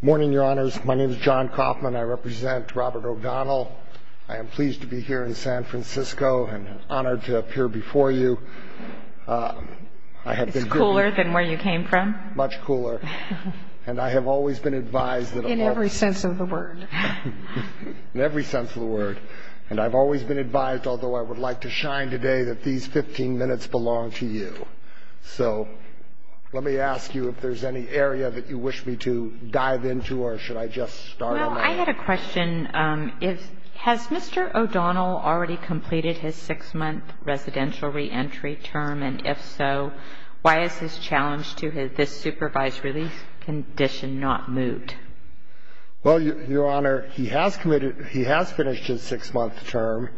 Morning, your honors. My name is John Kaufman. I represent Robert O'Donnell. I am pleased to be here in San Francisco and honored to appear before you. It's cooler than where you came from. Much cooler. And I have always been advised that... In every sense of the word. In every sense of the word. And I've always been advised, although I would like to shine today, that these 15 minutes belong to you. So let me ask you if there's any area that you wish me to dive into, or should I just start on that? Well, I had a question. Has Mr. O'Donnell already completed his six-month residential reentry term? And if so, why is his challenge to this supervised release condition not moved? Well, your honor, he has finished his six-month term.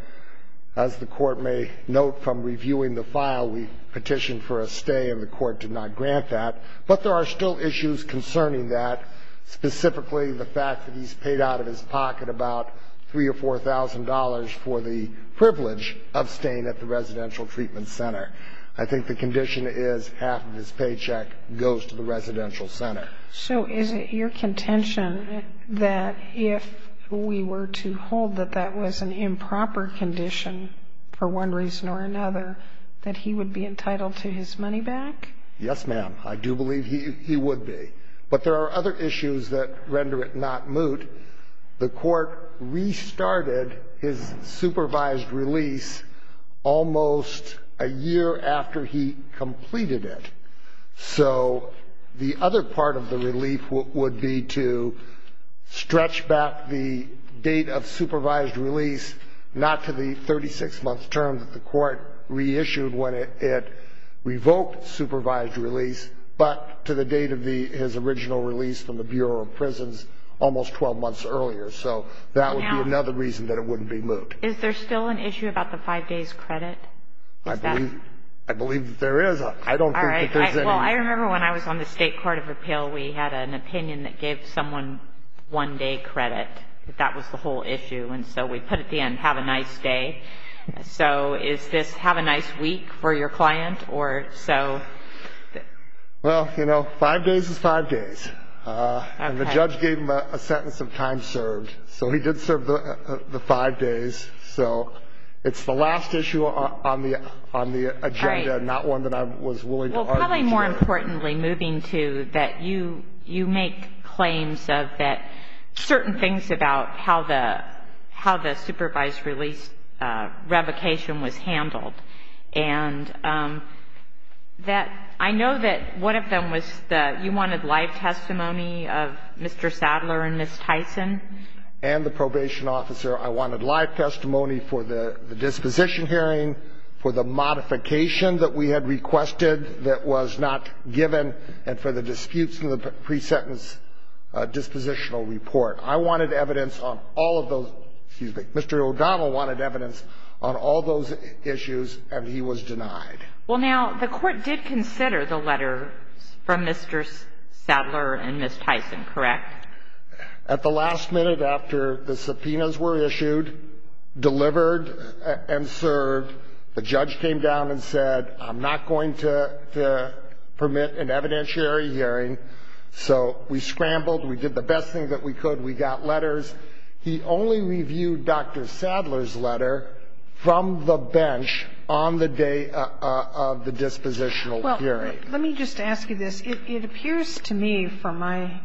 As the court may note from reviewing the file, we petitioned for a stay and the court did not grant that. But there are still issues concerning that, specifically the fact that he's paid out of his pocket about $3,000 or $4,000 for the privilege of staying at the residential treatment center. I think the condition is half of his paycheck goes to the residential center. So is it your contention that if we were to hold that that was an improper condition for one reason or another, that he would be entitled to his money back? Yes, ma'am. I do believe he would be. But there are other issues that render it not moot. The court restarted his supervised release almost a year after he completed it. So the other part of the relief would be to stretch back the date of supervised release not to the 36-month term that the court reissued when it revoked supervised release, but to the date of his original release from the Bureau of Prisons almost 12 months earlier. So that would be another reason that it wouldn't be moot. Is there still an issue about the five days credit? I believe that there is. I don't think that there's any. Well, I remember when I was on the State Court of Appeal, we had an opinion that gave someone one-day credit. That was the whole issue. And so we put at the end, have a nice day. So is this have a nice week for your client? Well, you know, five days is five days. And the judge gave him a sentence of time served. So he did serve the five days. So it's the last issue on the agenda, not one that I was willing to argue here. Well, probably more importantly, moving to that, you make claims of that certain things about how the supervised release revocation was handled. And I know that one of them was that you wanted live testimony of Mr. Sadler and Ms. Tyson. And the probation officer, I wanted live testimony for the disposition hearing, for the modification that we had requested that was not given, and for the disputes in the pre-sentence dispositional report. I wanted evidence on all of those. Excuse me. Mr. O'Donnell wanted evidence on all those issues, and he was denied. Well, now, the Court did consider the letters from Mr. Sadler and Ms. Tyson, correct? At the last minute after the subpoenas were issued, delivered, and served, the judge came down and said, I'm not going to permit an evidentiary hearing. So we scrambled. We did the best thing that we could. We got letters. He only reviewed Dr. Sadler's letter from the bench on the day of the dispositional hearing. Let me just ask you this. It appears to me from my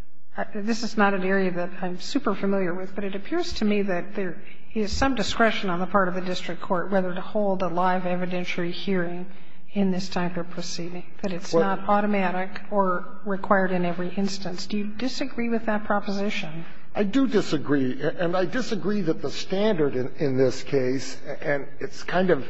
– this is not an area that I'm super familiar with, but it appears to me that there is some discretion on the part of the district court whether to hold a live evidentiary hearing in this type of proceeding, that it's not automatic or required in every instance. Do you disagree with that proposition? I do disagree. And I disagree that the standard in this case – and it's kind of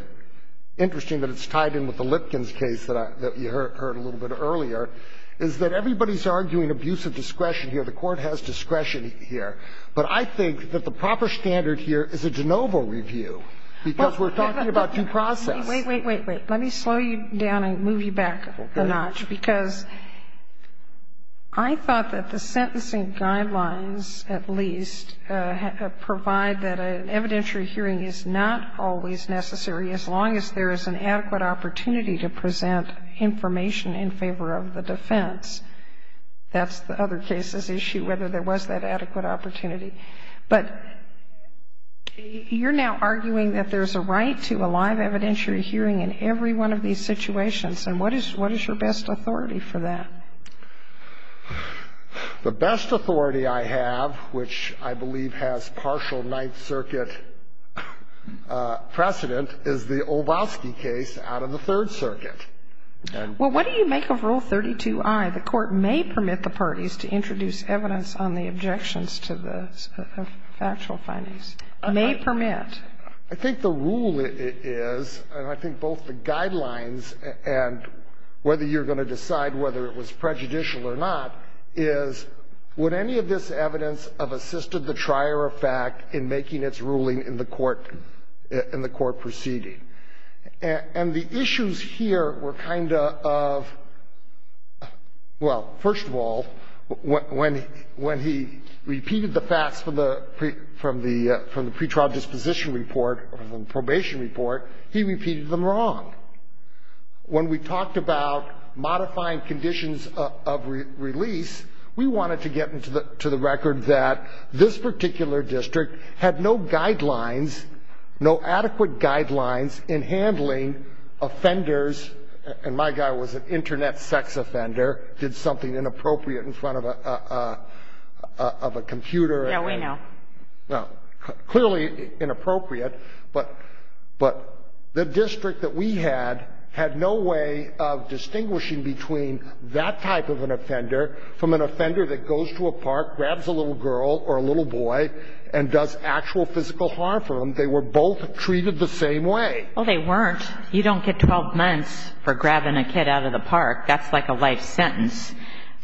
interesting that it's tied in with the Lipkin's case that you heard a little bit earlier – is that everybody's arguing abuse of discretion here. The Court has discretion here. But I think that the proper standard here is a de novo review, because we're talking about due process. Wait, wait, wait, wait. Let me slow you down and move you back a notch, because I thought that the sentencing guidelines at least provide that an evidentiary hearing is not always necessary as long as there is an adequate opportunity to present information in favor of the defense. That's the other case's issue, whether there was that adequate opportunity. But you're now arguing that there's a right to a live evidentiary hearing in every one of these situations. And what is your best authority for that? The best authority I have, which I believe has partial Ninth Circuit precedent, is the Olbowski case out of the Third Circuit. Well, what do you make of Rule 32i? The Court may permit the parties to introduce evidence on the objections to the factual findings. May permit. I think the rule is, and I think both the guidelines and whether you're going to decide whether it was prejudicial or not, is would any of this evidence have assisted the trier of fact in making its ruling in the court proceeding? And the issues here were kind of, well, first of all, when he repeated the facts from the pretrial disposition report, from the probation report, he repeated them wrong. When we talked about modifying conditions of release, we wanted to get to the record that this particular district had no guidelines, no adequate guidelines in handling offenders, and my guy was an Internet sex offender, did something inappropriate in front of a computer. Yeah, we know. Clearly inappropriate. But the district that we had had no way of distinguishing between that type of an offender from an offender that goes to a park, grabs a little girl or a little boy, and does actual physical harm for them, they were both treated the same way. Well, they weren't. You don't get 12 months for grabbing a kid out of the park. That's like a life sentence.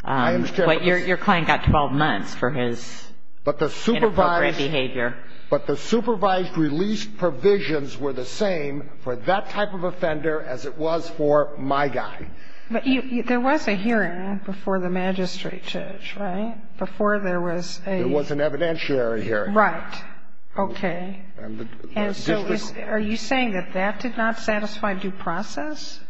I understand. But your client got 12 months for his inappropriate behavior. But the supervised release provisions were the same for that type of offender as it was for my guy. But there was a hearing before the magistrate judge, right? Before there was a ---- There was an evidentiary hearing. Right. Okay. And so are you saying that that did not satisfy due process?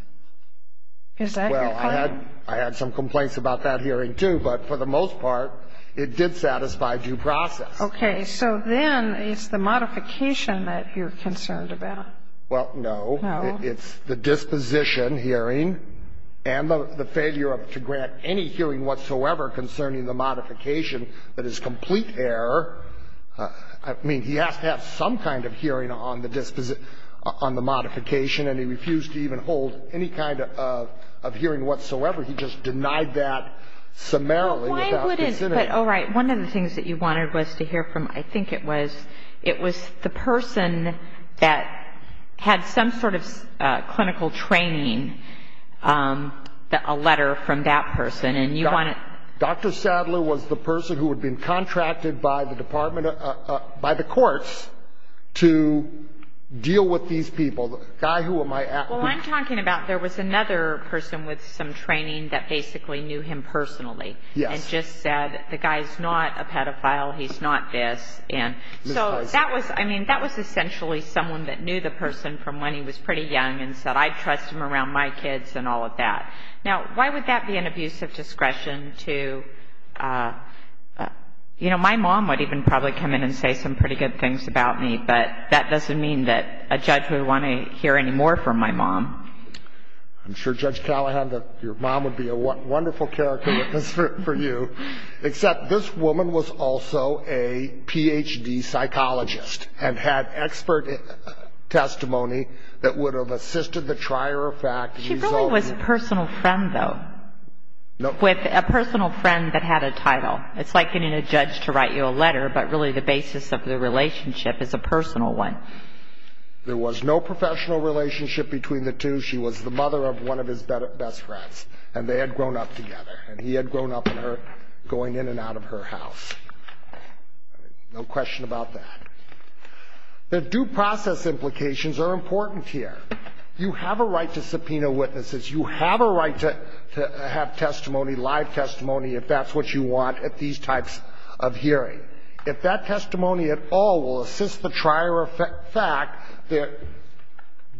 Is that your claim? Well, I had some complaints about that hearing, too, but for the most part, it did satisfy due process. Okay. So then it's the modification that you're concerned about. Well, no. No. It's the disposition hearing and the failure to grant any hearing whatsoever concerning the modification that is complete error. I mean, he has to have some kind of hearing on the modification, and he refused to even hold any kind of hearing whatsoever. He just denied that summarily. Well, why wouldn't he? But, all right, one of the things that you wanted was to hear from, I think it was, the person that had some sort of clinical training, a letter from that person, and you want to ---- Dr. Sadler was the person who had been contracted by the department, by the courts, to deal with these people. The guy who am I ---- Well, I'm talking about there was another person with some training that basically knew him personally. Yes. And just said, the guy's not a pedophile, he's not this. And so that was, I mean, that was essentially someone that knew the person from when he was pretty young and said, I trust him around my kids and all of that. Now, why would that be an abuse of discretion to, you know, my mom would even probably come in and say some pretty good things about me, but that doesn't mean that a judge would want to hear any more from my mom. I'm sure, Judge Callahan, that your mom would be a wonderful character witness for you. Except this woman was also a Ph.D. psychologist and had expert testimony that would have assisted the trier of fact. She really was a personal friend, though. With a personal friend that had a title. It's like getting a judge to write you a letter, but really the basis of the relationship is a personal one. There was no professional relationship between the two. She was the mother of one of his best friends, and they had grown up together. And he had grown up with her going in and out of her house. No question about that. The due process implications are important here. You have a right to subpoena witnesses. You have a right to have testimony, live testimony, if that's what you want at these types of hearings. If that testimony at all will assist the trier of fact, the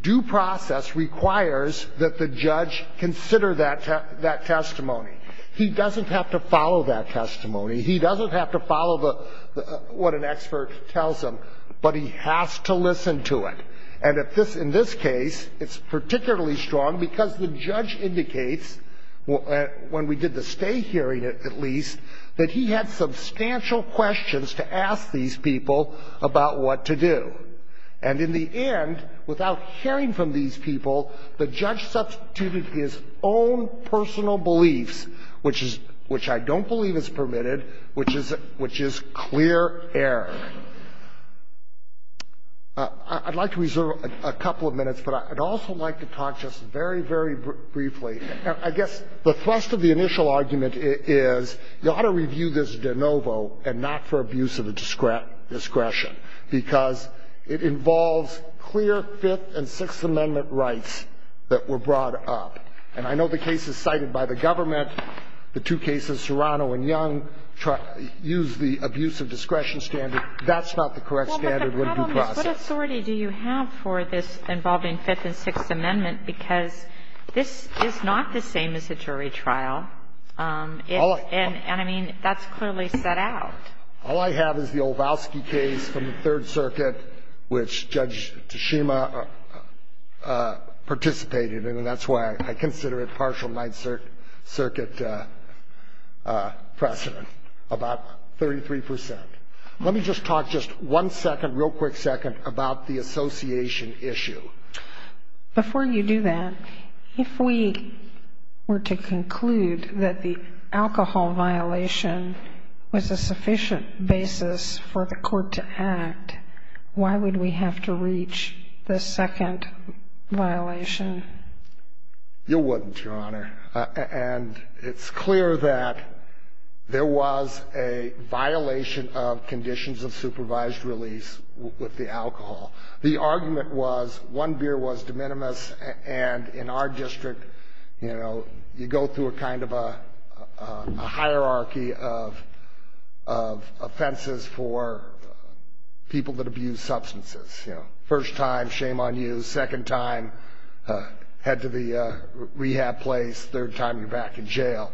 due process requires that the judge consider that testimony. He doesn't have to follow that testimony. He doesn't have to follow what an expert tells him, but he has to listen to it. And in this case, it's particularly strong because the judge indicates, when we did the stay hearing at least, that he had substantial questions to ask these people about what to do. And in the end, without hearing from these people, the judge substituted his own personal beliefs, which I don't believe is permitted, which is clear error. I'd like to reserve a couple of minutes, but I'd also like to talk just very, very briefly. I guess the thrust of the initial argument is you ought to review this de novo and not for abuse of discretion, because it involves clear Fifth and Sixth Amendment rights that were brought up. And I know the cases cited by the government, the two cases, Serrano and Young, use the abuse of discretion standard. That's not the correct standard of the due process. Well, but the problem is what authority do you have for this involving Fifth and Sixth Amendment, because this is not the same as a jury trial. And, I mean, that's clearly set out. All I have is the Olbowski case from the Third Circuit, which Judge Tashima participated in, and that's why I consider it partial Ninth Circuit precedent, about 33 percent. Let me just talk just one second, real quick second, about the association issue. Before you do that, if we were to conclude that the alcohol violation was a sufficient basis for the court to act, why would we have to reach the second violation? You wouldn't, Your Honor. And it's clear that there was a violation of conditions of supervised release with the alcohol. The argument was one beer was de minimis, and in our district, you know, you go through a kind of a hierarchy of offenses for people that abuse substances. You know, first time, shame on you. Second time, head to the rehab place. Third time, you're back in jail.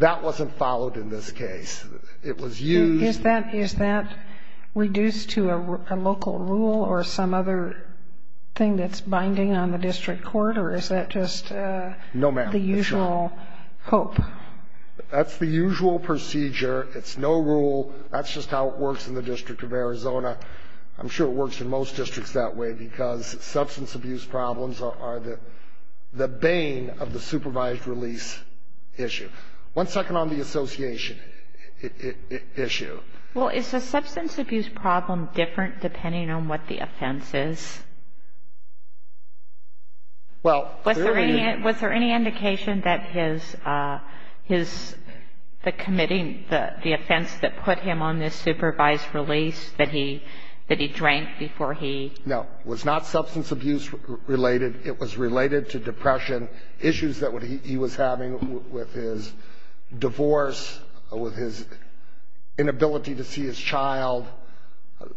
That wasn't followed in this case. It was used. Is that reduced to a local rule or some other thing that's binding on the district court, or is that just the usual hope? No, ma'am, it's not. That's the usual procedure. It's no rule. That's just how it works in the District of Arizona. I'm sure it works in most districts that way, because substance abuse problems are the bane of the supervised release issue. One second on the association issue. Well, is the substance abuse problem different depending on what the offense is? Well, clearly it is. Was there any indication that his committing the offense that put him on this supervised release, that he drank before he? No. It was not substance abuse-related. It was related to depression, issues that he was having with his divorce, with his inability to see his child.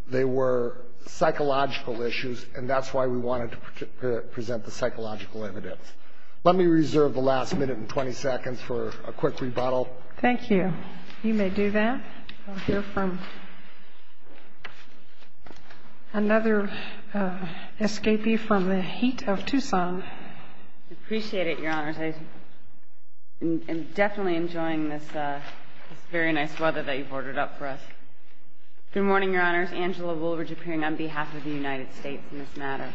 They were psychological issues, and that's why we wanted to present the psychological evidence. Let me reserve the last minute and 20 seconds for a quick rebuttal. Thank you. You may do that. I'll hear from another escapee from the heat of Tucson. I appreciate it, Your Honors. I am definitely enjoying this very nice weather that you've ordered up for us. Good morning, Your Honors. Angela Woolridge appearing on behalf of the United States in this matter.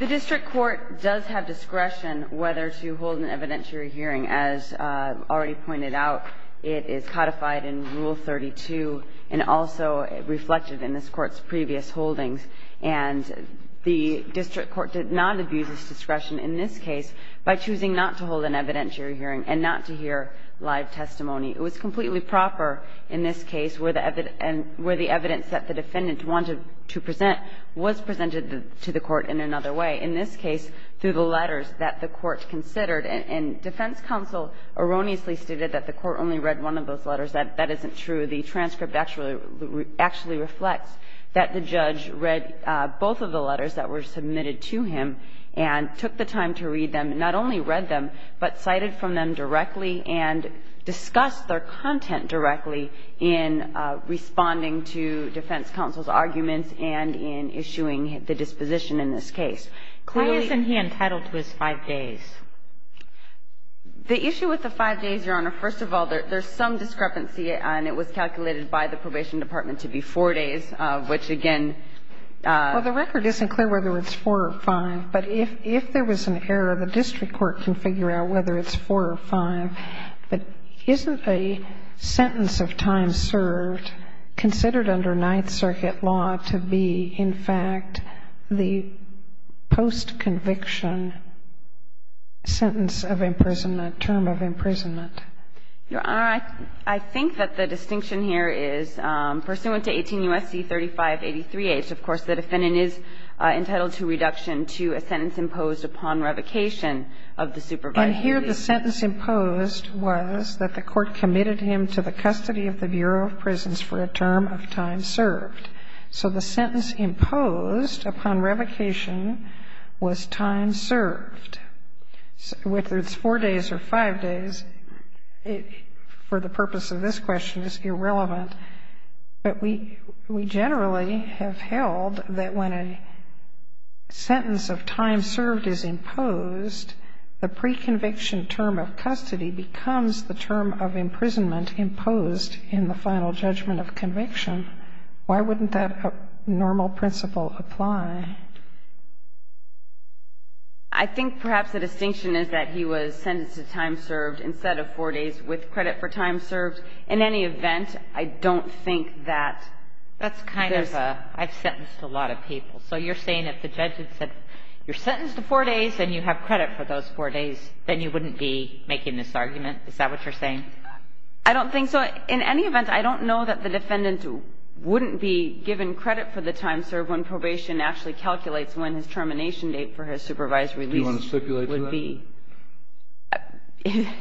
The district court does have discretion whether to hold an evidentiary hearing. As already pointed out, it is codified in Rule 32 and also reflected in this Court's previous holdings. And the district court did not abuse its discretion in this case by choosing not to hold an evidentiary hearing and not to hear live testimony. It was completely proper in this case where the evidence that the defendant wanted to present was presented to the Court in another way, in this case through the letters that the Court considered. And defense counsel erroneously stated that the Court only read one of those letters. That isn't true. The transcript actually reflects that the judge read both of the letters that were submitted to him and took the time to read them, not only read them, but cited from them directly and discussed their content directly in responding to defense counsel's arguments and in issuing the disposition in this case. Why isn't he entitled to his five days? The issue with the five days, Your Honor, first of all, there's some discrepancy and it was calculated by the probation department to be four days, which again ---- Well, the record isn't clear whether it's four or five, but if there was an error, the district court can figure out whether it's four or five. But isn't a sentence of time served considered under Ninth Circuit law to be, in fact, the post-conviction sentence of imprisonment, term of imprisonment? Your Honor, I think that the distinction here is pursuant to 18 U.S.C. 3583H, of course, the defendant is entitled to reduction to a sentence imposed upon revocation of the supervisory duty. And here the sentence imposed was that the Court committed him to the custody of the Bureau of Prisons for a term of time served. So the sentence imposed upon revocation was time served. Whether it's four days or five days, for the purpose of this question, is irrelevant. But we generally have held that when a sentence of time served is imposed, the pre-conviction term of custody becomes the term of imprisonment imposed in the final judgment of conviction. Why wouldn't that normal principle apply? I think perhaps the distinction is that he was sentenced to time served instead of four days with credit for time served. In any event, I don't think that there's – That's kind of a – I've sentenced a lot of people. So you're saying if the judge had said you're sentenced to four days and you have credit for those four days, then you wouldn't be making this argument? Is that what you're saying? I don't think so. Well, in any event, I don't know that the defendant wouldn't be given credit for the time served when probation actually calculates when his termination date for his supervised release would be. Do you want to stipulate that?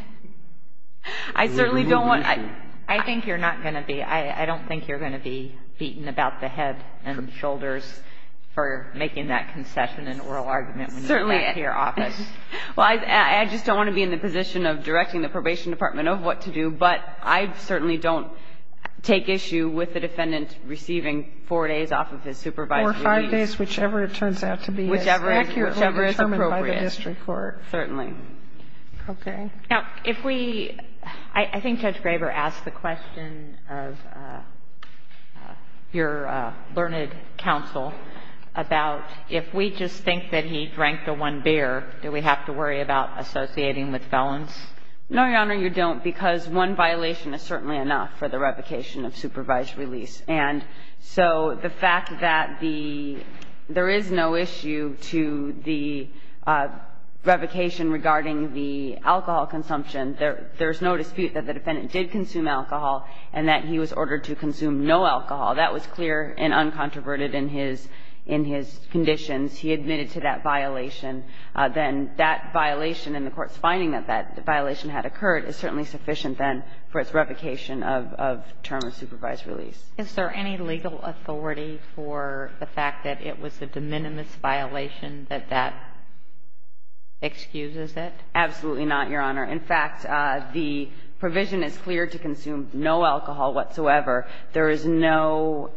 I certainly don't want to. I think you're not going to be. I don't think you're going to be beaten about the head and shoulders for making that concession and oral argument when you get back to your office. Well, I just don't want to be in the position of directing the probation department of what to do. But I certainly don't take issue with the defendant receiving four days off of his supervised release. Four or five days, whichever it turns out to be. Whichever is appropriate. Whichever is accurately determined by the district court. Certainly. Okay. Now, if we – I think Judge Graber asked the question of your learned counsel about if we just think that he drank the one beer, do we have to worry about associating with felons? No, Your Honor, you don't, because one violation is certainly enough for the revocation of supervised release. And so the fact that the – there is no issue to the revocation regarding the alcohol consumption. There's no dispute that the defendant did consume alcohol and that he was ordered to consume no alcohol. That was clear and uncontroverted in his conditions. He admitted to that violation. Then that violation and the court's finding that that violation had occurred is certainly sufficient then for its revocation of term of supervised release. Is there any legal authority for the fact that it was a de minimis violation, that that excuses it? Absolutely not, Your Honor. In fact, the provision is clear to consume no alcohol whatsoever. There is no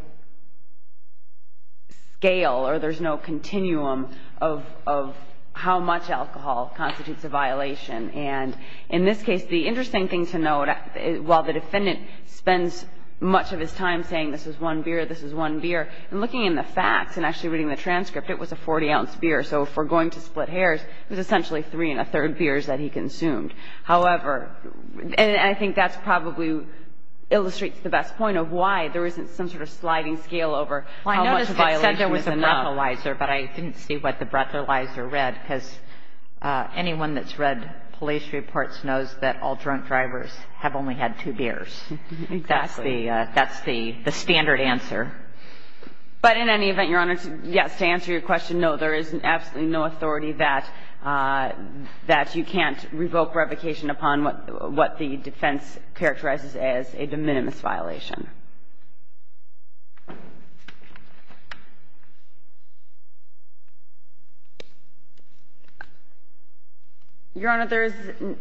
scale or there's no continuum of how much alcohol constitutes a violation. And in this case, the interesting thing to note, while the defendant spends much of his time saying this is one beer, this is one beer, and looking in the facts and actually reading the transcript, it was a 40-ounce beer. So if we're going to split hairs, it was essentially three-and-a-third beers that he consumed. However, and I think that's probably illustrates the best point of why there isn't some sort of sliding scale over how much a violation is enough. Well, I noticed it said there was a breathalyzer, but I didn't see what the breathalyzer read, because anyone that's read police reports knows that all drunk drivers have only had two beers. Exactly. That's the standard answer. But in any event, Your Honor, yes, to answer your question, no, there is absolutely no authority that you can't revoke revocation upon what the defense characterizes as a de minimis violation. Your Honor, there is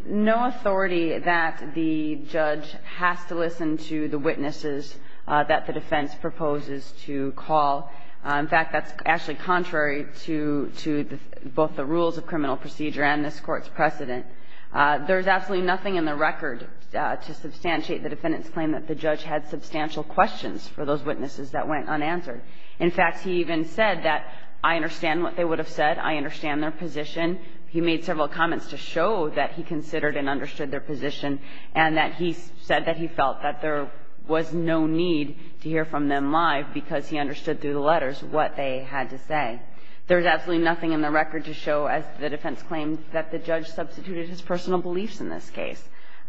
no authority that the judge has to listen to the witnesses that the defense proposes to call. In fact, that's actually contrary to both the rules of criminal procedure and this Court's precedent. There is absolutely nothing in the record to substantiate the defendant's claim that the judge had substantial questions for those witnesses that went unanswered. In fact, he even said that I understand what they would have said, I understand their position. He made several comments to show that he considered and understood their position and that he said that he felt that there was no need to hear from them live because he understood through the letters what they had to say. There is absolutely nothing in the record to show, as the defense claimed, that the judge substituted his personal beliefs in this case.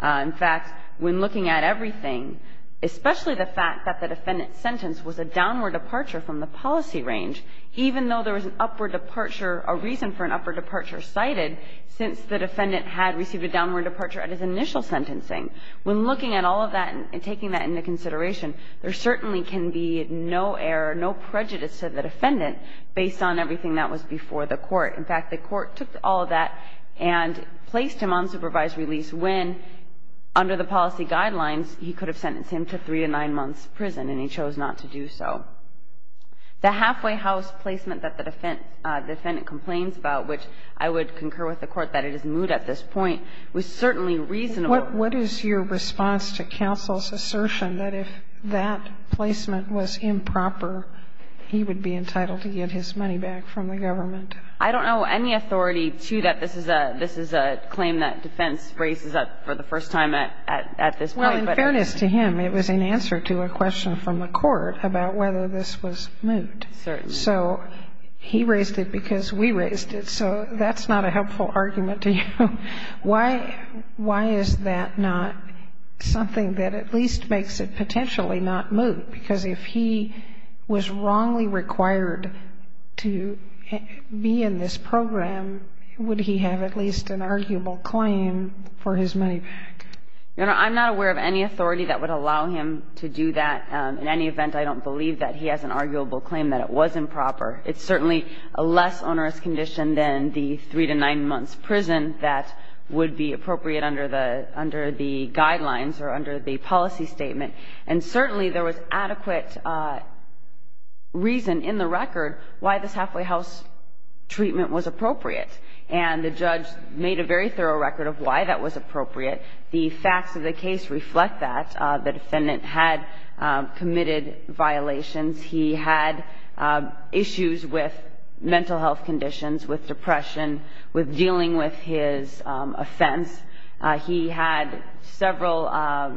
In fact, when looking at everything, especially the fact that the defendant's sentence was a downward departure from the policy range, even though there was an upward departure, a reason for an upward departure cited since the defendant had received a downward departure at his initial sentencing, when looking at all of that and taking that into consideration, there certainly can be no error, no prejudice to the defendant based on everything that was before the Court. In fact, the Court took all of that and placed him on supervised release when, under the policy guidelines, he could have sentenced him to three to nine months' prison and he chose not to do so. The halfway house placement that the defendant complains about, which I would concur with the Court that it is moot at this point, was certainly reasonable. What is your response to counsel's assertion that if that placement was improper, he would be entitled to get his money back from the government? I don't know any authority to that. This is a claim that defense raises up for the first time at this point. Well, in fairness to him, it was in answer to a question from the Court about whether this was moot. Certainly. So he raised it because we raised it, so that's not a helpful argument to you. Why is that not something that at least makes it potentially not moot? Because if he was wrongly required to be in this program, would he have at least an arguable claim for his money back? You know, I'm not aware of any authority that would allow him to do that. In any event, I don't believe that he has an arguable claim that it was improper. It's certainly a less onerous condition than the three to nine months prison that would be appropriate under the guidelines or under the policy statement. And certainly there was adequate reason in the record why this halfway house treatment was appropriate. And the judge made a very thorough record of why that was appropriate. The facts of the case reflect that. The defendant had committed violations. He had issues with mental health conditions, with depression, with dealing with his offense. He had several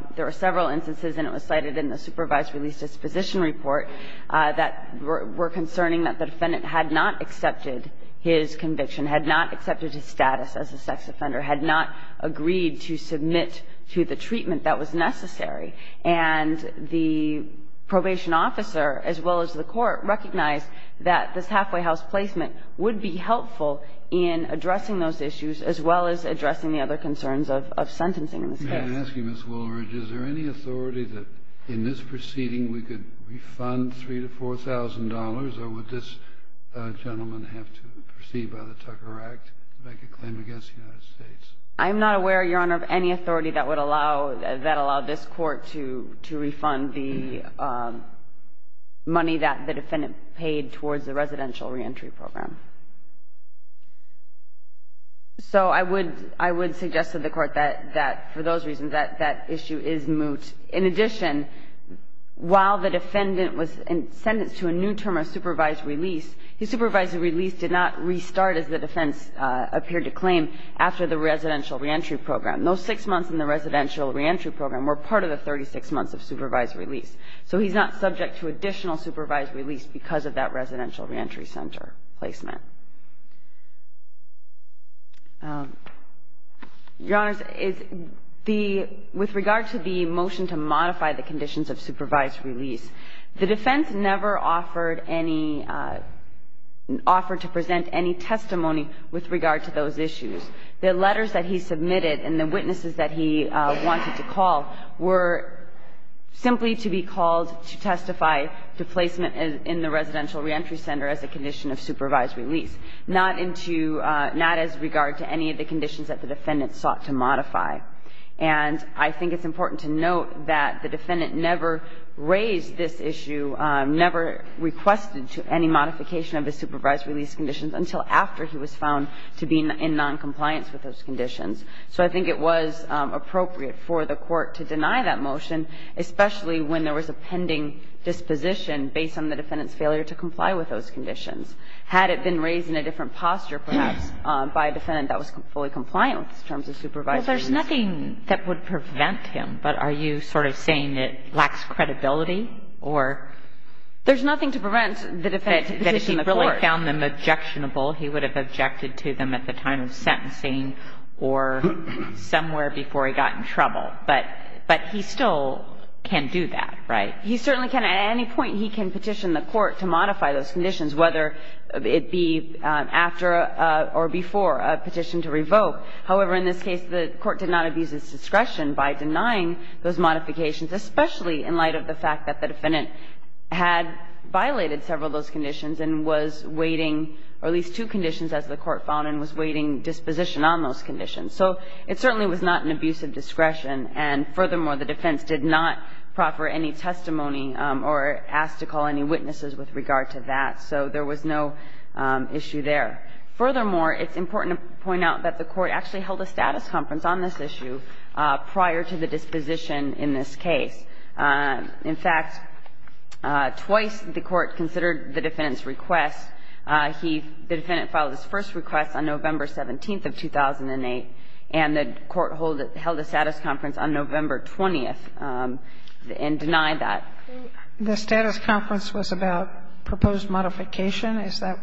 – there were several instances, and it was cited in the supervised release disposition report, that were concerning that the defendant had not accepted his conviction, had not accepted his status as a sex offender, had not agreed to submit to the treatment that was necessary. And the probation officer, as well as the court, recognized that this halfway house placement would be helpful in addressing those issues, as well as addressing the other concerns of sentencing in this case. I'm asking, Ms. Woolridge, is there any authority that in this proceeding we could refund $3,000 to $4,000, or would this gentleman have to proceed by the Tucker Act to make a claim against the United States? I'm not aware, Your Honor, of any authority that would allow – that would allow this Court to refund the money that the defendant paid towards the residential reentry program. So I would – I would suggest to the Court that, for those reasons, that issue is moot. In addition, while the defendant was sentenced to a new term of supervised release, his supervised release did not restart as the defense appeared to claim after the residential reentry program. Those six months in the residential reentry program were part of the 36 months of supervised release. So he's not subject to additional supervised release because of that residential reentry center placement. Your Honors, the – with regard to the motion to modify the conditions of supervised release, the defense never offered any – offered to present any testimony with regard to those issues. The letters that he submitted and the witnesses that he wanted to call were simply to be called to testify to placement in the residential reentry center as a condition of supervised release, not into – not as regard to any of the conditions that the defendant sought to modify. And I think it's important to note that the defendant never raised this issue, never requested to any modification of his supervised release conditions until after he was found to be in noncompliance with those conditions. So I think it was appropriate for the Court to deny that motion, especially when there was a pending disposition based on the defendant's failure to comply with those conditions. Had it been raised in a different posture, perhaps, by a defendant that was fully compliant with his terms of supervised release? Well, there's nothing that would prevent him, but are you sort of saying it lacks credibility, or? There's nothing to prevent the defendant from petitioning the Court. That if he really found them objectionable, he would have objected to them at the time of sentencing or somewhere before he got in trouble. But he still can do that, right? He certainly can. At any point, he can petition the Court to modify those conditions, whether it be after or before a petition to revoke. However, in this case, the Court did not abuse its discretion by denying those modifications, especially in light of the fact that the defendant had violated several of those conditions and was waiting, or at least two conditions, as the Court found, and was waiting disposition on those conditions. So it certainly was not an abuse of discretion. And furthermore, the defense did not proffer any testimony or ask to call any witnesses with regard to that. So there was no issue there. Furthermore, it's important to point out that the Court actually held a status conference on this issue prior to the disposition in this case. In fact, twice the Court considered the defendant's request. He, the defendant, filed his first request on November 17th of 2008, and the Court held a status conference on November 20th and denied that. The status conference was about proposed modification? Is that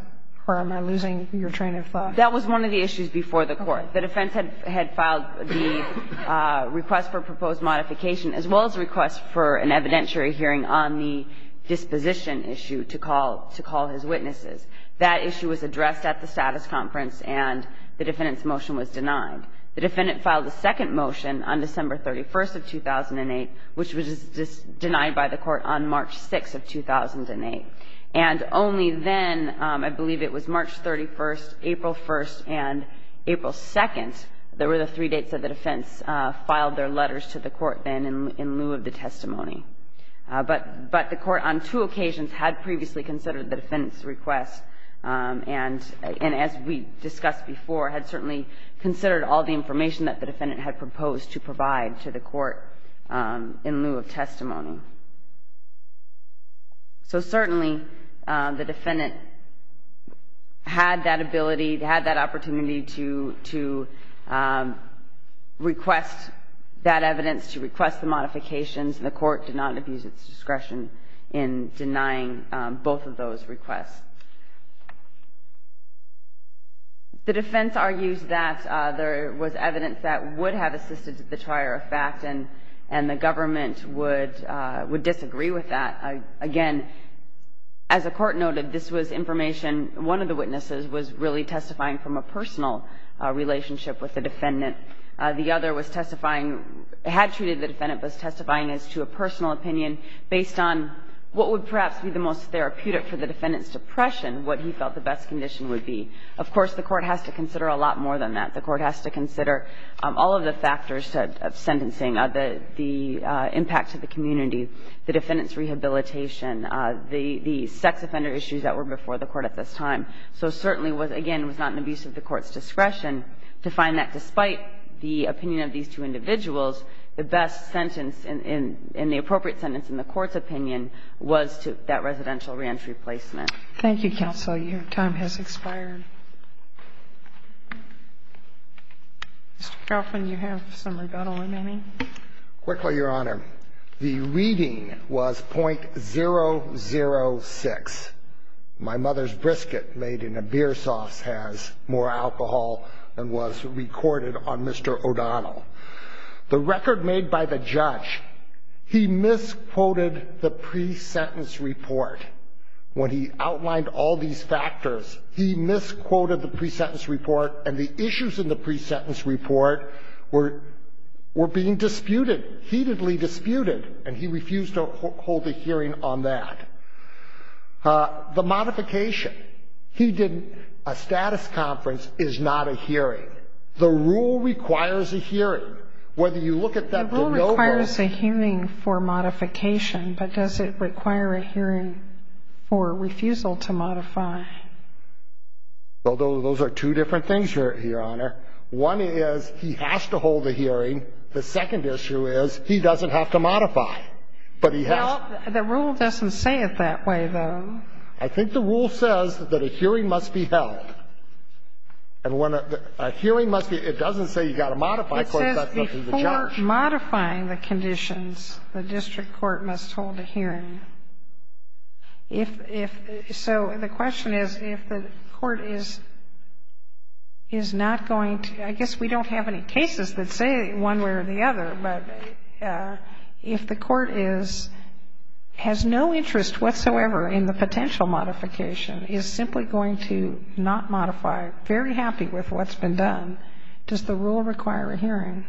where I'm losing your train of thought? That was one of the issues before the Court. The defense had filed the request for proposed modification as well as the request for an evidentiary hearing on the disposition issue to call his witnesses. That issue was addressed at the status conference, and the defendant's motion was denied. The defendant filed a second motion on December 31st of 2008, which was denied by the Court on March 6th of 2008. And only then, I believe it was March 31st, April 1st, and April 2nd, there were the three dates that the defense filed their letters to the Court then in lieu of the testimony. But the Court on two occasions had previously considered the defendant's request and, as we discussed before, had certainly considered all the information that the defendant had proposed to provide to the Court in lieu of testimony. So certainly, the defendant had that ability, had that opportunity to request that evidence, to request the modifications, and the Court did not abuse its discretion in denying both of those requests. The defense argues that there was evidence that would have assisted the trier of facts and the government would disagree with that. Again, as the Court noted, this was information, one of the witnesses was really testifying from a personal relationship with the defendant. The other was testifying, had treated the defendant, was testifying as to a personal opinion based on what would perhaps be the most therapeutic for the defendant's depression, what he felt the best condition would be. Of course, the Court has to consider a lot more than that. The Court has to consider all of the factors of sentencing, the impact to the community, the defendant's rehabilitation, the sex offender issues that were before the Court at this time. So certainly, again, it was not an abuse of the Court's discretion to find that, despite the opinion of these two individuals, the best sentence and the appropriate sentence in the Court's opinion was that residential reentry placement. Thank you, Counsel. Your time has expired. Mr. Crawford, you have some rebuttal remaining. Quickly, Your Honor. The reading was .006. My mother's brisket made in a beer sauce has more alcohol than was recorded on Mr. O'Donnell. The record made by the judge, he misquoted the pre-sentence report when he asked for a hearing. He outlined all these factors. He misquoted the pre-sentence report, and the issues in the pre-sentence report were being disputed, heatedly disputed, and he refused to hold a hearing on that. The modification. He didn't. A status conference is not a hearing. The rule requires a hearing. Whether you look at that de novo. It requires a hearing for modification, but does it require a hearing for refusal to modify? Well, those are two different things, Your Honor. One is he has to hold a hearing. The second issue is he doesn't have to modify. But he has to. Well, the rule doesn't say it that way, though. I think the rule says that a hearing must be held. And when a hearing must be held, it doesn't say you've got to modify because that's up to the judge. Before modifying the conditions, the district court must hold a hearing. If the question is, if the court is not going to, I guess we don't have any cases that say one way or the other, but if the court is, has no interest whatsoever in the potential modification, is simply going to not modify, very happy with what's been done. Does the rule require a hearing?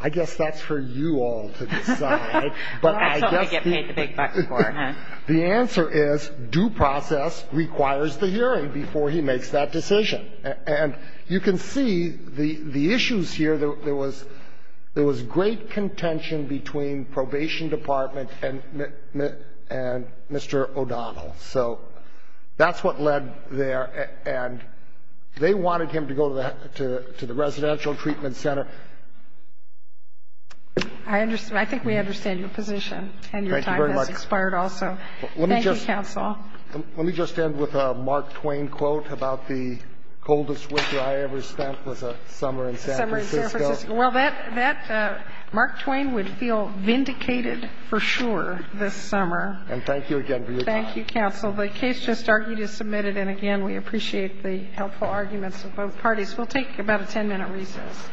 I guess that's for you all to decide. I get paid the big bucks for it. The answer is due process requires the hearing before he makes that decision. And you can see the issues here, there was great contention between probation department and Mr. O'Donnell. So that's what led there. And they wanted him to go to the residential treatment center. I understand. I think we understand your position. Thank you very much. And your time has expired also. Thank you, counsel. Let me just end with a Mark Twain quote about the coldest winter I ever spent was a summer in San Francisco. A summer in San Francisco. Well, that, Mark Twain would feel vindicated for sure this summer. And thank you again for your time. Thank you, counsel. The case just argued is submitted. And, again, we appreciate the helpful arguments of both parties. We'll take about a ten-minute recess.